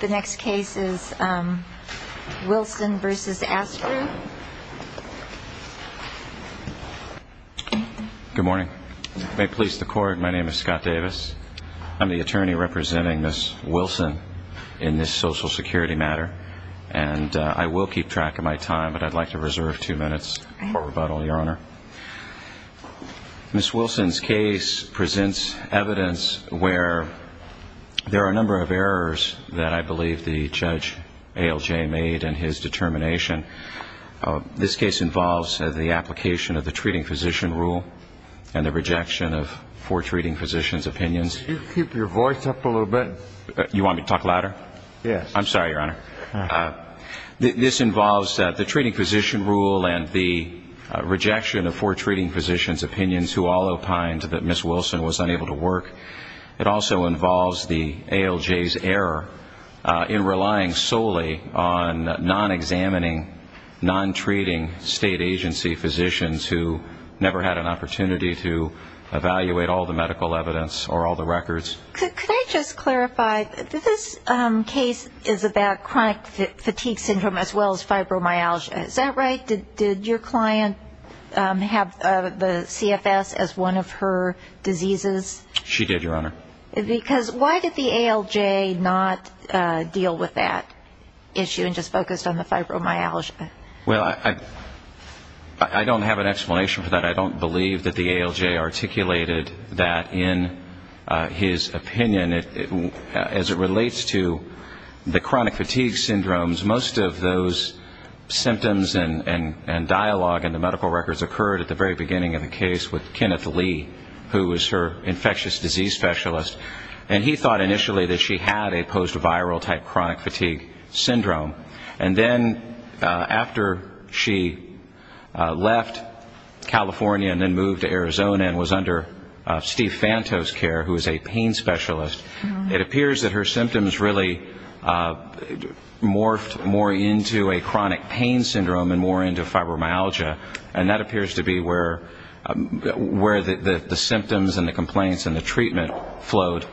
The next case is Wilson v. Astor. Good morning. May it please the Court, my name is Scott Davis. I'm the attorney representing Ms. Wilson in this Social Security matter. And I will keep track of my time, but I'd like to reserve two minutes for rebuttal, Your Honor. Ms. Wilson's case presents evidence where there are a number of errors that I believe the Judge ALJ made in his determination. This case involves the application of the treating physician rule and the rejection of four treating physicians' opinions. Could you keep your voice up a little bit? You want me to talk louder? Yes. I'm sorry, Your Honor. This involves the treating physician rule and the rejection of four treating physicians' opinions who all opined that Ms. Wilson was unable to work. It also involves the ALJ's error in relying solely on non-examining, non-treating state agency physicians who never had an opportunity to evaluate all the medical evidence or all the records. Could I just clarify, this case is about chronic fatigue syndrome as well as fibromyalgia. Is that right? Did your client have the CFS as one of her diseases? She did, Your Honor. Because why did the ALJ not deal with that issue and just focused on the fibromyalgia? Well, I don't have an explanation for that. I don't believe that the ALJ articulated that in his opinion. As it relates to the chronic fatigue syndromes, most of those symptoms and dialogue in the medical records occurred at the very beginning of the case with Kenneth Lee, who was her infectious disease specialist. And he thought initially that she had a post-viral type chronic fatigue syndrome. And then after she left California and then moved to Arizona and was under Steve Fanto's care, who is a pain specialist, it appears that her symptoms really morphed more into a chronic pain syndrome and more into fibromyalgia. And that appears to be where the symptoms and the complaints and the treatment flowed,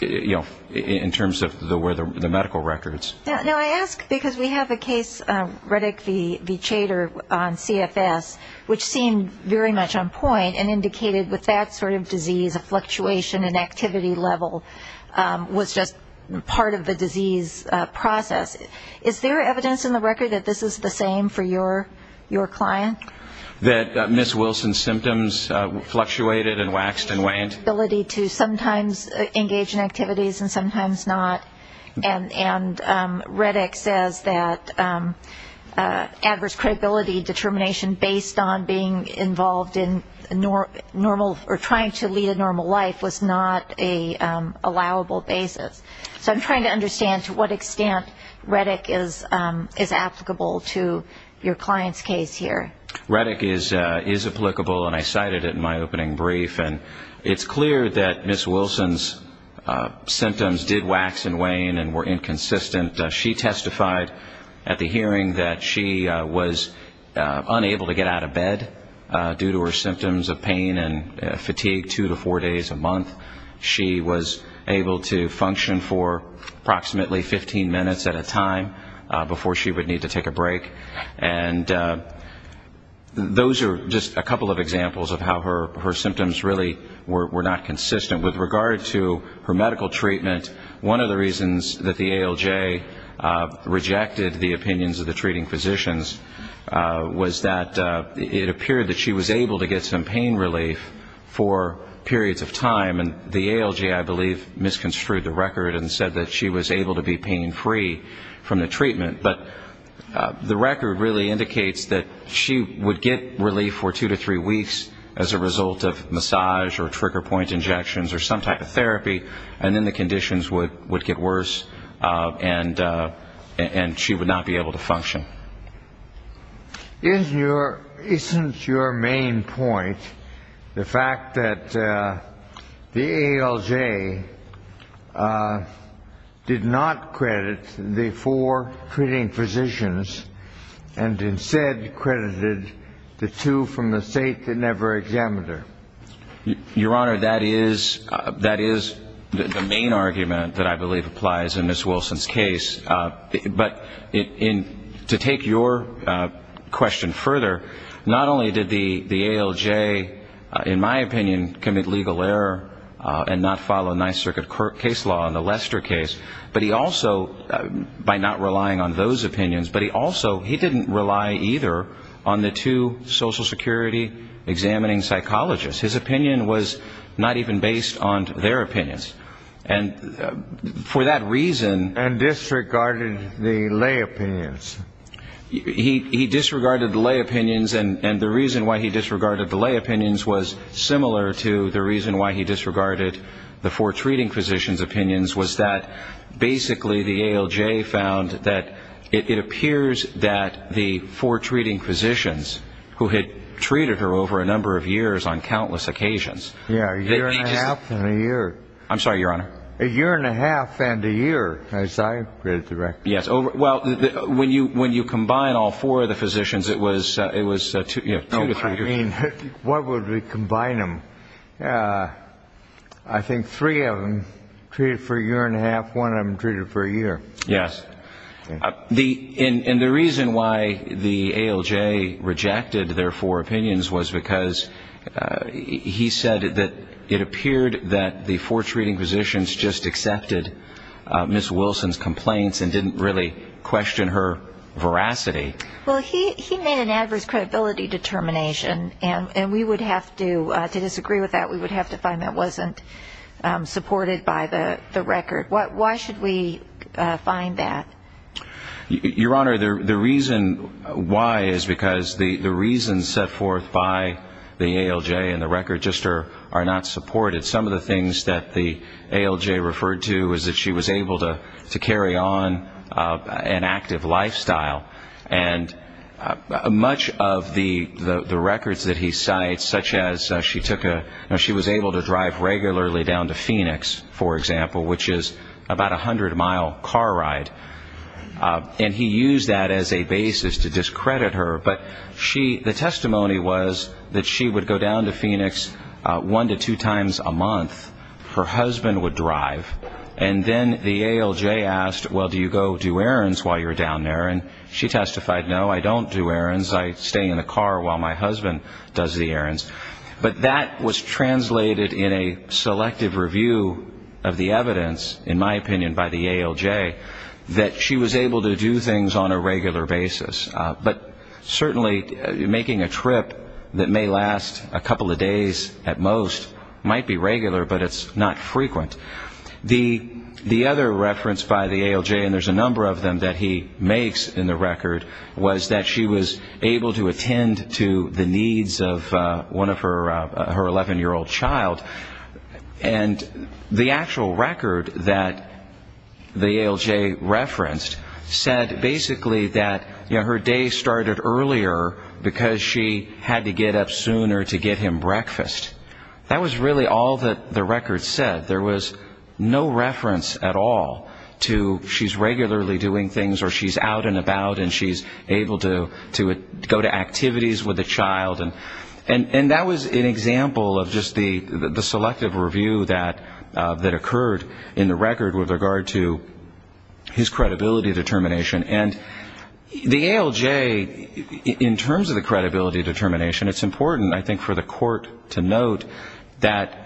you know, in terms of where the medical records. Now, I ask because we have a case, Riddick v. Chater on CFS, which seemed very much on point and indicated with that sort of disease, a fluctuation in activity level was just part of the disease process. Is there evidence in the record that this is the same for your client? That Ms. Wilson's symptoms fluctuated and waxed and waned? Well, there is the ability to sometimes engage in activities and sometimes not. And Riddick says that adverse credibility determination based on being involved in normal or trying to lead a normal life was not an allowable basis. So I'm trying to understand to what extent Riddick is applicable to your client's case here. Riddick is applicable, and I cited it in my opening brief. And it's clear that Ms. Wilson's symptoms did wax and wane and were inconsistent. She testified at the hearing that she was unable to get out of bed due to her symptoms of pain and fatigue two to four days a month. She was able to function for approximately 15 minutes at a time before she would need to take a break. And those are just a couple of examples of how her symptoms really were not consistent. With regard to her medical treatment, one of the reasons that the ALJ rejected the opinions of the treating physicians was that it appeared that she was able to get some pain relief for periods of time. And the ALJ, I believe, misconstrued the record and said that she was able to be pain-free from the treatment. But the record really indicates that she would get relief for two to three weeks as a result of massage or trigger-point injections or some type of therapy, and then the conditions would get worse, and she would not be able to function. Isn't your main point the fact that the ALJ did not credit the four treating physicians that she testified to? The ALJ did not credit the four treating physicians and instead credited the two from the state that never examined her. Your Honor, that is the main argument that I believe applies in Ms. Wilson's case. But to take your question further, not only did the ALJ, in my opinion, commit legal error and not follow Ninth Circuit case law in the Lester case, but he also, by not relying on those opinions, but he also, he didn't rely either on the two Social Security examining psychologists. His opinion was not even based on their opinions. And disregarded the lay opinions. He disregarded the lay opinions, and the reason why he disregarded the lay opinions was similar to the reason why he disregarded the four treating physicians' opinions, was that basically the ALJ found that it appears that the four treating physicians who had treated her over a number of years on countless occasions... Yeah, a year and a half and a year. I'm sorry, Your Honor. A year and a half and a year, as I read the record. Yes, well, when you combine all four of the physicians, it was two to three years. No, I mean, what would we combine them? I think three of them treated for a year and a half, one of them treated for a year. Yes, and the reason why the ALJ rejected their four opinions was because he said that it appeared that the four treating physicians just accepted Ms. Wilson's complaints and didn't really question her veracity. Well, he made an adverse credibility determination, and we would have to, to disagree with that, we would have to find that wasn't supported by the record. Why should we find that? Your Honor, the reason why is because the reasons set forth by the ALJ and the record just are not supported. Some of the things that the ALJ referred to is that she was able to carry on an active lifestyle, and much of the records that he cites, such as she took a, she was able to drive regularly down to Phoenix, for example, which is about a hundred-mile car ride, and he used that as a basis to discredit her. But she, the testimony was that she would go down to Phoenix one to two times a month, her husband would drive, and then the ALJ asked, well, do you go do errands while you're down there? And she testified, no, I don't do errands, I stay in the car while my husband does the errands. But that was translated in a selective review of the evidence, in my opinion, by the ALJ, that she was able to do things on a regular basis. But certainly making a trip that may last a couple of days at most might be regular, but it's not frequent. The other reference by the ALJ, and there's a number of them that he makes in the record, was that she was able to attend to the needs of one of her 11-year-old child. And the actual record that the ALJ referenced said basically that, you know, her day started earlier because she had to get up sooner to get him breakfast. That was really all that the record said. There was no reference at all to she's regularly doing things or she's out and about and she's able to go to activities with a child. And that was an example of just the selective review that occurred in the record with regard to his credibility determination. And the ALJ, in terms of the credibility determination, it's important, I think, for the court to note that, you know,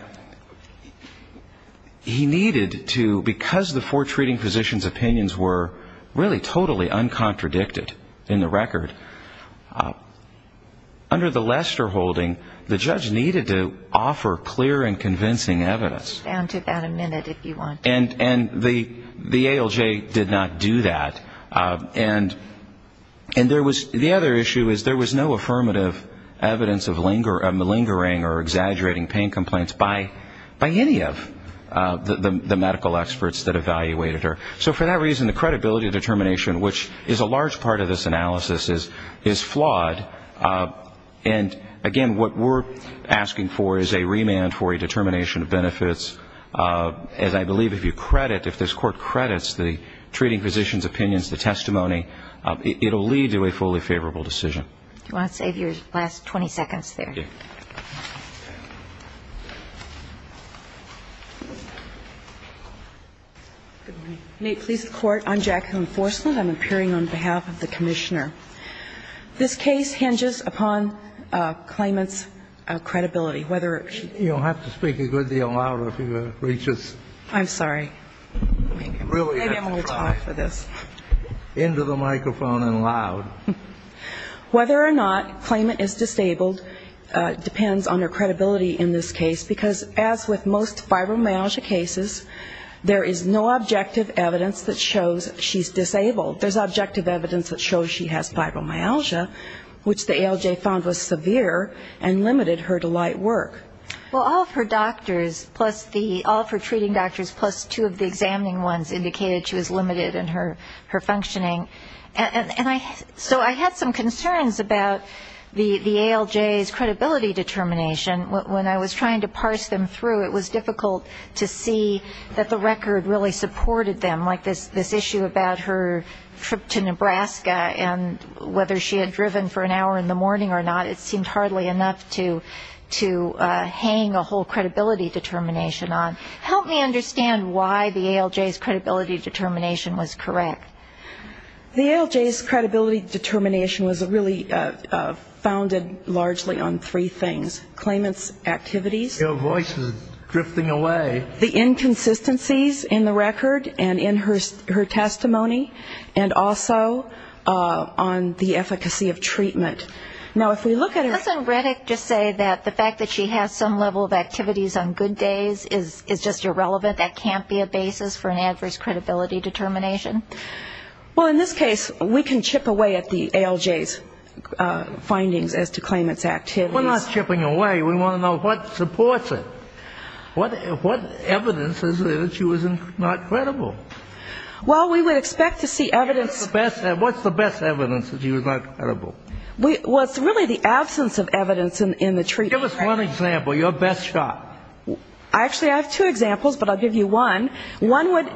he needed to, because the four treating physicians' opinions were really totally uncontradicted in the record, under the Lester holding, the judge needed to offer clear and convincing evidence. And the ALJ did not do that. And there was, the other issue is there was no affirmative evidence of lingering or exaggerating pain complaints by any of the four treating physicians. The medical experts that evaluated her. So for that reason, the credibility determination, which is a large part of this analysis, is flawed. And, again, what we're asking for is a remand for a determination of benefits. As I believe if you credit, if this court credits the treating physicians' opinions, the testimony, it will lead to a fully favorable decision. Do you want to save your last 20 seconds there? May it please the Court, I'm Jacqueline Forslund. I'm appearing on behalf of the Commissioner. This case hinges upon claimant's credibility. You'll have to speak a good deal louder if you want to reach us. I'm sorry. Maybe I'm a little tall for this. Into the microphone and loud. Whether or not claimant is disabled depends on her credibility in this case. Because as with most fibromyalgia cases, there is no objective evidence that shows she's disabled. There's objective evidence that shows she has fibromyalgia, which the ALJ found was severe and limited her to light work. Well, all of her doctors plus the, all of her treating doctors plus two of the examining ones indicated she was limited in her functioning. And so I had some concerns about the ALJ's credibility determination. When I was trying to parse them through, it was difficult to see that the record really supported them. Like this issue about her trip to Nebraska and whether she had driven for an hour in the morning or not, it seemed hardly enough to hang a whole credibility determination on. Help me understand why the ALJ's credibility determination was correct. The ALJ's credibility determination was really founded largely on three things. Claimant's activities. Your voice is drifting away. The inconsistencies in the record and in her testimony, and also on the efficacy of treatment. Doesn't Rettig just say that the fact that she has some level of activities on good days is just irrelevant? That can't be a basis for an adverse credibility determination? Well, in this case, we can chip away at the ALJ's findings as to claimant's activities. We're not chipping away. We want to know what supports it. What evidence is it that she was not credible? Well, we would expect to see evidence. What's the best evidence that she was not credible? Well, it's really the absence of evidence in the treatment. Give us one example, your best shot. Actually, I have two examples, but I'll give you one. One would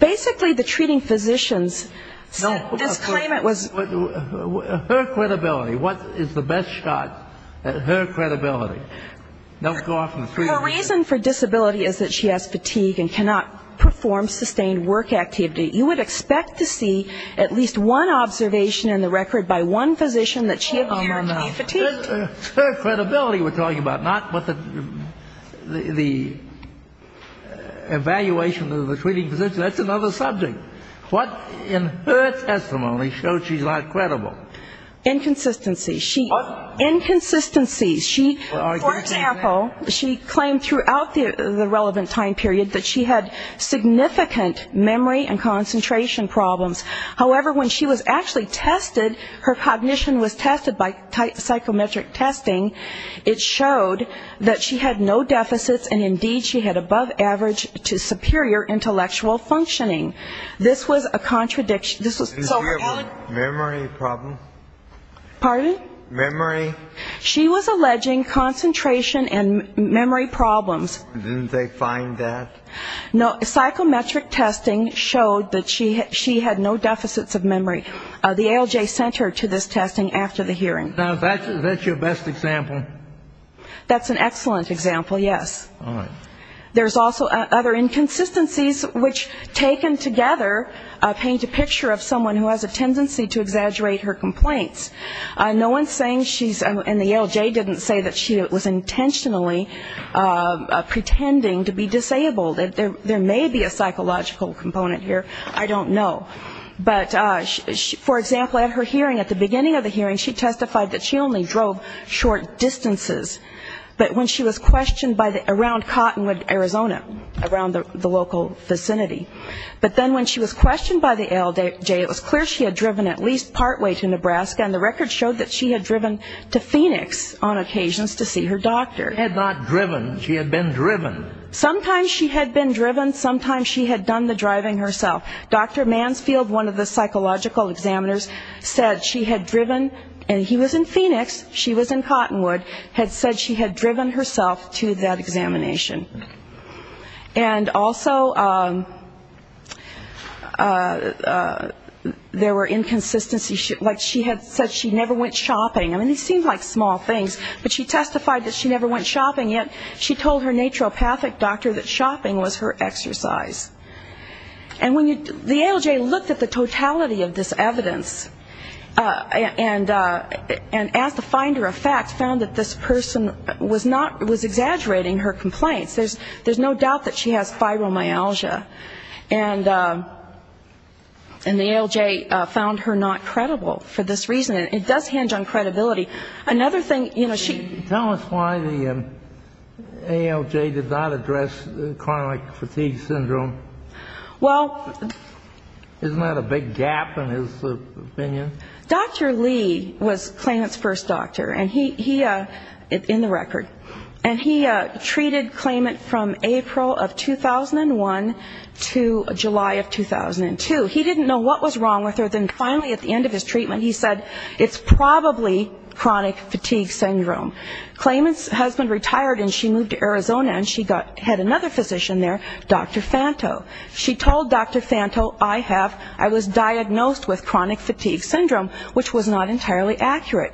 basically the treating physicians said this claimant was... Her credibility. What is the best shot at her credibility? Her reason for disability is that she has fatigue and cannot perform sustained work activity. You would expect to see at least one observation in the record by one physician that she appeared to be fatigued. It's her credibility we're talking about, not what the evaluation of the treating physician. That's another subject. What in her testimony shows she's not credible? Inconsistency. What? Inconsistency. For example, she claimed throughout the relevant time period that she had significant memory and concentration problems. However, when she was actually tested, her cognition was tested by psychometric testing. It showed that she had no deficits, and indeed she had above average to superior intellectual functioning. This was a contradiction. Memory problem. Pardon? Memory. She was alleging concentration and memory problems. Didn't they find that? No. Psychometric testing showed that she had no deficits of memory. The ALJ sent her to this testing after the hearing. Now, that's your best example? That's an excellent example, yes. All right. There's also other inconsistencies, which taken together paint a picture of someone who has a tendency to exaggerate her complaints. No one's saying she's and the ALJ didn't say that she was intentionally pretending to be disabled. There may be a psychological component here. I don't know. But, for example, at her hearing, at the beginning of the hearing, she testified that she only drove short distances, but when she was questioned around Cottonwood, Arizona, around the local vicinity. But then when she was questioned by the ALJ, it was clear she had driven at least partway to Nebraska, and the record showed that she had driven to Phoenix on occasions to see her doctor. She had not driven. She had been driven. Sometimes she had been driven. Sometimes she had done the driving herself. Dr. Mansfield, one of the psychological examiners, said she had driven, and he was in Phoenix, she was in Cottonwood, had said she had driven herself to that examination. And also there were inconsistencies. Like she had said she never went shopping. I mean, these seem like small things, but she testified that she never went shopping, yet she told her naturopathic doctor that shopping was her exercise. And when you the ALJ looked at the totality of this evidence and asked to find her a fact, found that this person was exaggerating her complaints. There's no doubt that she has fibromyalgia, and the ALJ found her not credible for this reason. It does hinge on credibility. Another thing, you know, she ---- Tell us why the ALJ did not address chronic fatigue syndrome. Well ---- Isn't that a big gap in his opinion? Dr. Lee was Klayment's first doctor. And he ---- in the record. And he treated Klayment from April of 2001 to July of 2002. He didn't know what was wrong with her. Then finally at the end of his treatment he said, it's probably chronic fatigue syndrome. Klayment's husband retired and she moved to Arizona and she had another physician there, Dr. Fanto. She told Dr. Fanto, I have ---- I was diagnosed with chronic fatigue syndrome, which was not entirely accurate.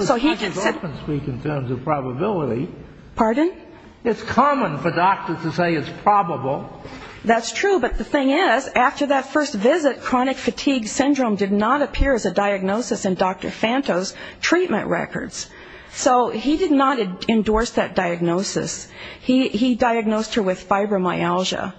So he did ---- Well, this doesn't speak in terms of probability. Pardon? It's common for doctors to say it's probable. That's true, but the thing is, after that first visit, chronic fatigue syndrome did not appear as a diagnosis in Dr. Fanto's treatment records. So he did not endorse that diagnosis. He diagnosed her with fibromyalgia.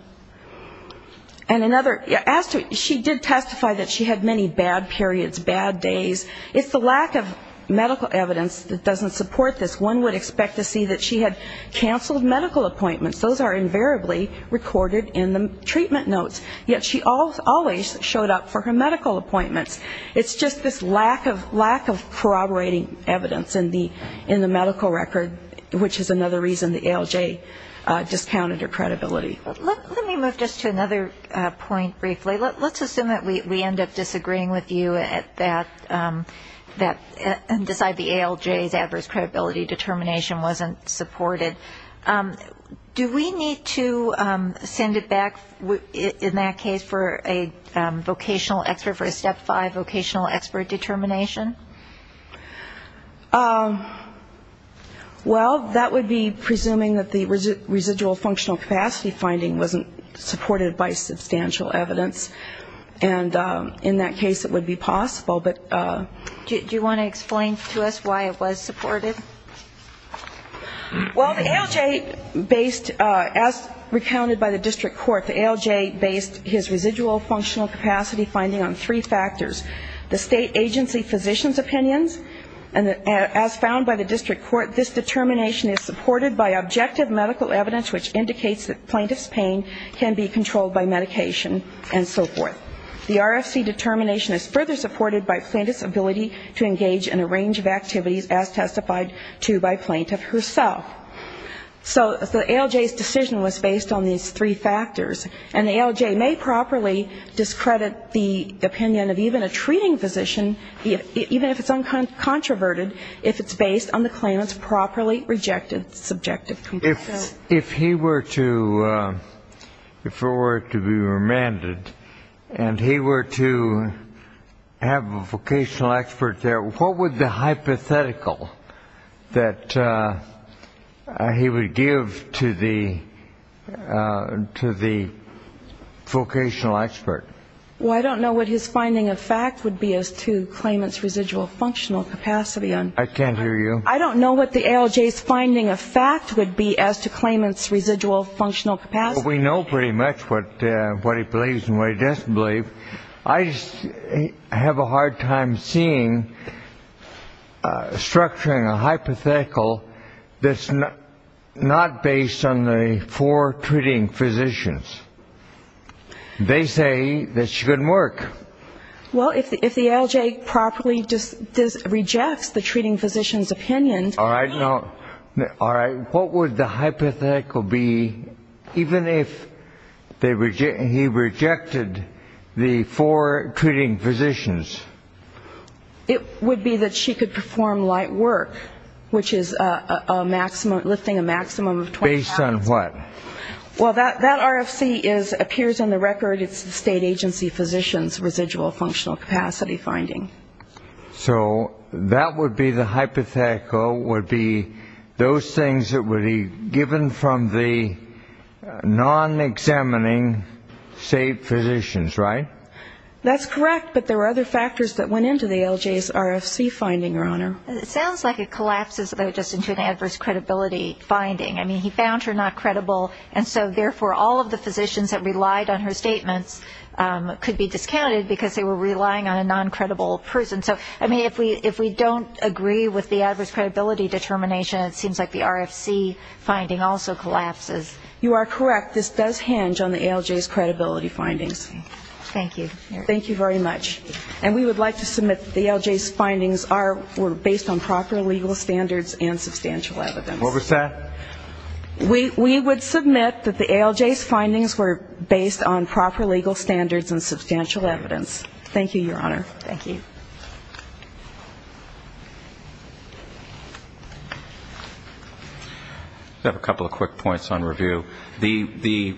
She did testify that she had many bad periods, bad days. It's the lack of medical evidence that doesn't support this. One would expect to see that she had canceled medical appointments. Those are invariably recorded in the treatment notes. Yet she always showed up for her medical appointments. It's just this lack of corroborating evidence in the medical record, which is another reason the ALJ discounted her credibility. Let me move just to another point briefly. Let's assume that we end up disagreeing with you and decide the ALJ's adverse credibility determination wasn't supported. Do we need to send it back, in that case, for a vocational expert, for a Step 5 vocational expert determination? Well, that would be presuming that the residual functional capacity finding wasn't supported by substantial evidence. And in that case, it would be possible. Do you want to explain to us why it was supported? Well, the ALJ based, as recounted by the district court, the ALJ based his residual functional capacity finding on three factors. The state agency physician's opinions, and as found by the district court, this determination is supported by objective medical evidence, which indicates that plaintiff's pain can be controlled by medication and so forth. The RFC determination is further supported by plaintiff's ability to engage in a range of activities, as testified to by plaintiff herself. So the ALJ's decision was based on these three factors. And the ALJ may properly discredit the opinion of even a treating physician, even if it's uncontroverted, if it's based on the claimant's properly rejected subjective conclusions. If he were to be remanded and he were to have a vocational expert there, what would the hypothetical that he would give to the vocational expert? Well, I don't know what his finding of fact would be as to claimant's residual functional capacity. I can't hear you. I don't know what the ALJ's finding of fact would be as to claimant's residual functional capacity. We know pretty much what he believes and what he doesn't believe. I have a hard time seeing structuring a hypothetical that's not based on the four treating physicians. They say this shouldn't work. Well, if the ALJ properly rejects the treating physician's opinion. All right. What would the hypothetical be even if he rejected the four treating physicians? It would be that she could perform light work, which is lifting a maximum of 20 pounds. Based on what? Well, that RFC appears in the record. It's the state agency physician's residual functional capacity finding. So that would be the hypothetical would be those things that would be given from the non-examining state physicians, right? That's correct, but there were other factors that went into the ALJ's RFC finding, Your Honor. It sounds like it collapses just into an adverse credibility finding. I mean, he found her not credible, and so therefore all of the physicians that relied on her statements could be discounted because they were relying on a non-credible person. So, I mean, if we don't agree with the adverse credibility determination, it seems like the RFC finding also collapses. You are correct. This does hinge on the ALJ's credibility findings. Thank you. Thank you very much. And we would like to submit the ALJ's findings were based on proper legal standards and substantial evidence. What was that? We would submit that the ALJ's findings were based on proper legal standards and substantial evidence. Thank you, Your Honor. Thank you. I have a couple of quick points on review. The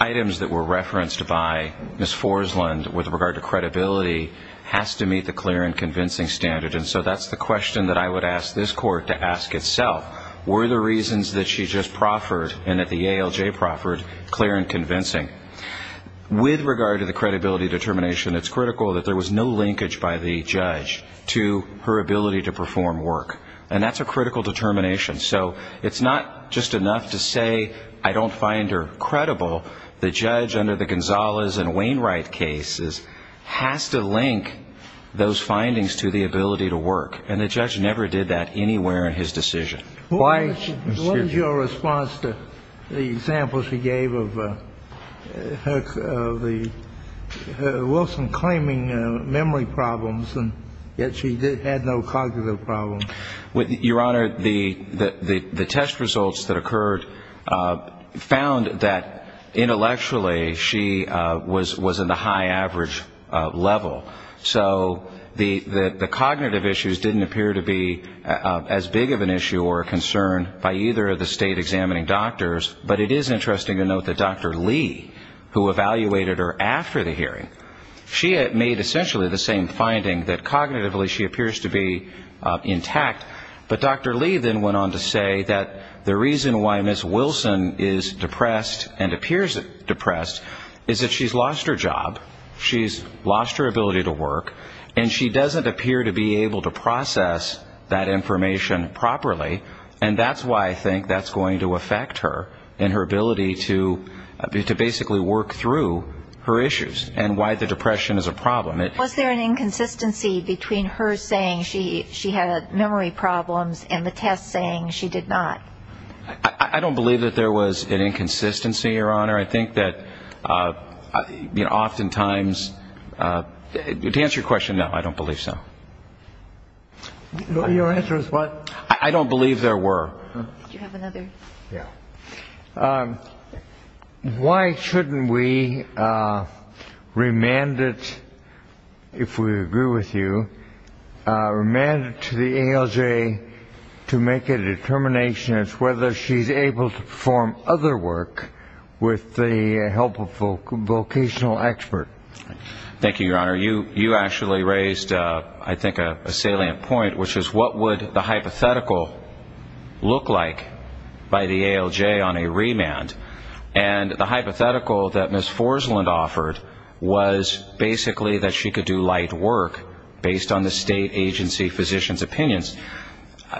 items that were referenced by Ms. Forslund with regard to credibility has to meet the clear and convincing standard, and so that's the question that I would ask this Court to ask itself. Were the reasons that she just proffered and that the ALJ proffered clear and convincing? With regard to the credibility determination, it's critical that there was no linkage by the judge to her ability to perform work, and that's a critical determination. So it's not just enough to say I don't find her credible. The judge under the Gonzalez and Wainwright cases has to link those findings to the ability to work, and the judge never did that anywhere in his decision. What was your response to the example she gave of the Wilson claiming memory problems, and yet she had no cognitive problems? Your Honor, the test results that occurred found that intellectually she was in the high average level. So the cognitive issues didn't appear to be as big of an issue or a concern by either of the state-examining doctors, but it is interesting to note that Dr. Lee, who evaluated her after the hearing, she had made essentially the same finding, that cognitively she appears to be intact. But Dr. Lee then went on to say that the reason why Ms. Wilson is depressed and appears depressed is that she's lost her job. She's lost her ability to work, and she doesn't appear to be able to process that information properly, and that's why I think that's going to affect her and her ability to basically work through her issues and why the depression is a problem. Was there an inconsistency between her saying she had memory problems and the test saying she did not? I don't believe that there was an inconsistency, Your Honor. I think that oftentimes, to answer your question, no, I don't believe so. Your answer is what? I don't believe there were. Did you have another? Yeah. Why shouldn't we remand it, if we agree with you, remand it to the ALJ to make a determination as to whether she's able to perform other work with the help of a vocational expert? Thank you, Your Honor. You actually raised, I think, a salient point, which is what would the hypothetical look like by the ALJ on a remand? And the hypothetical that Ms. Forslund offered was basically that she could do light work based on the state agency physician's opinions.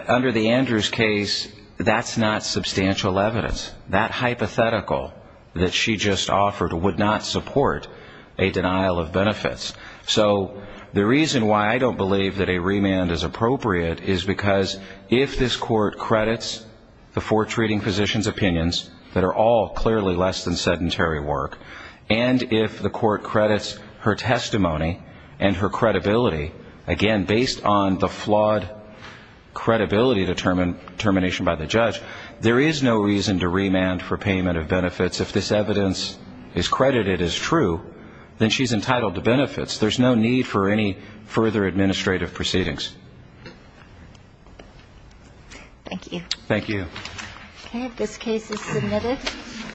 Under the Andrews case, that's not substantial evidence. That hypothetical that she just offered would not support a denial of benefits. So the reason why I don't believe that a remand is appropriate is because if this court credits the four treating physician's opinions that are all clearly less than sedentary work, and if the court credits her testimony and her credibility, again, based on the flawed credibility determination by the judge, there is no reason to remand for payment of benefits. If this evidence is credited as true, then she's entitled to benefits. There's no need for any further administrative proceedings. Thank you. Thank you. Okay, this case is submitted.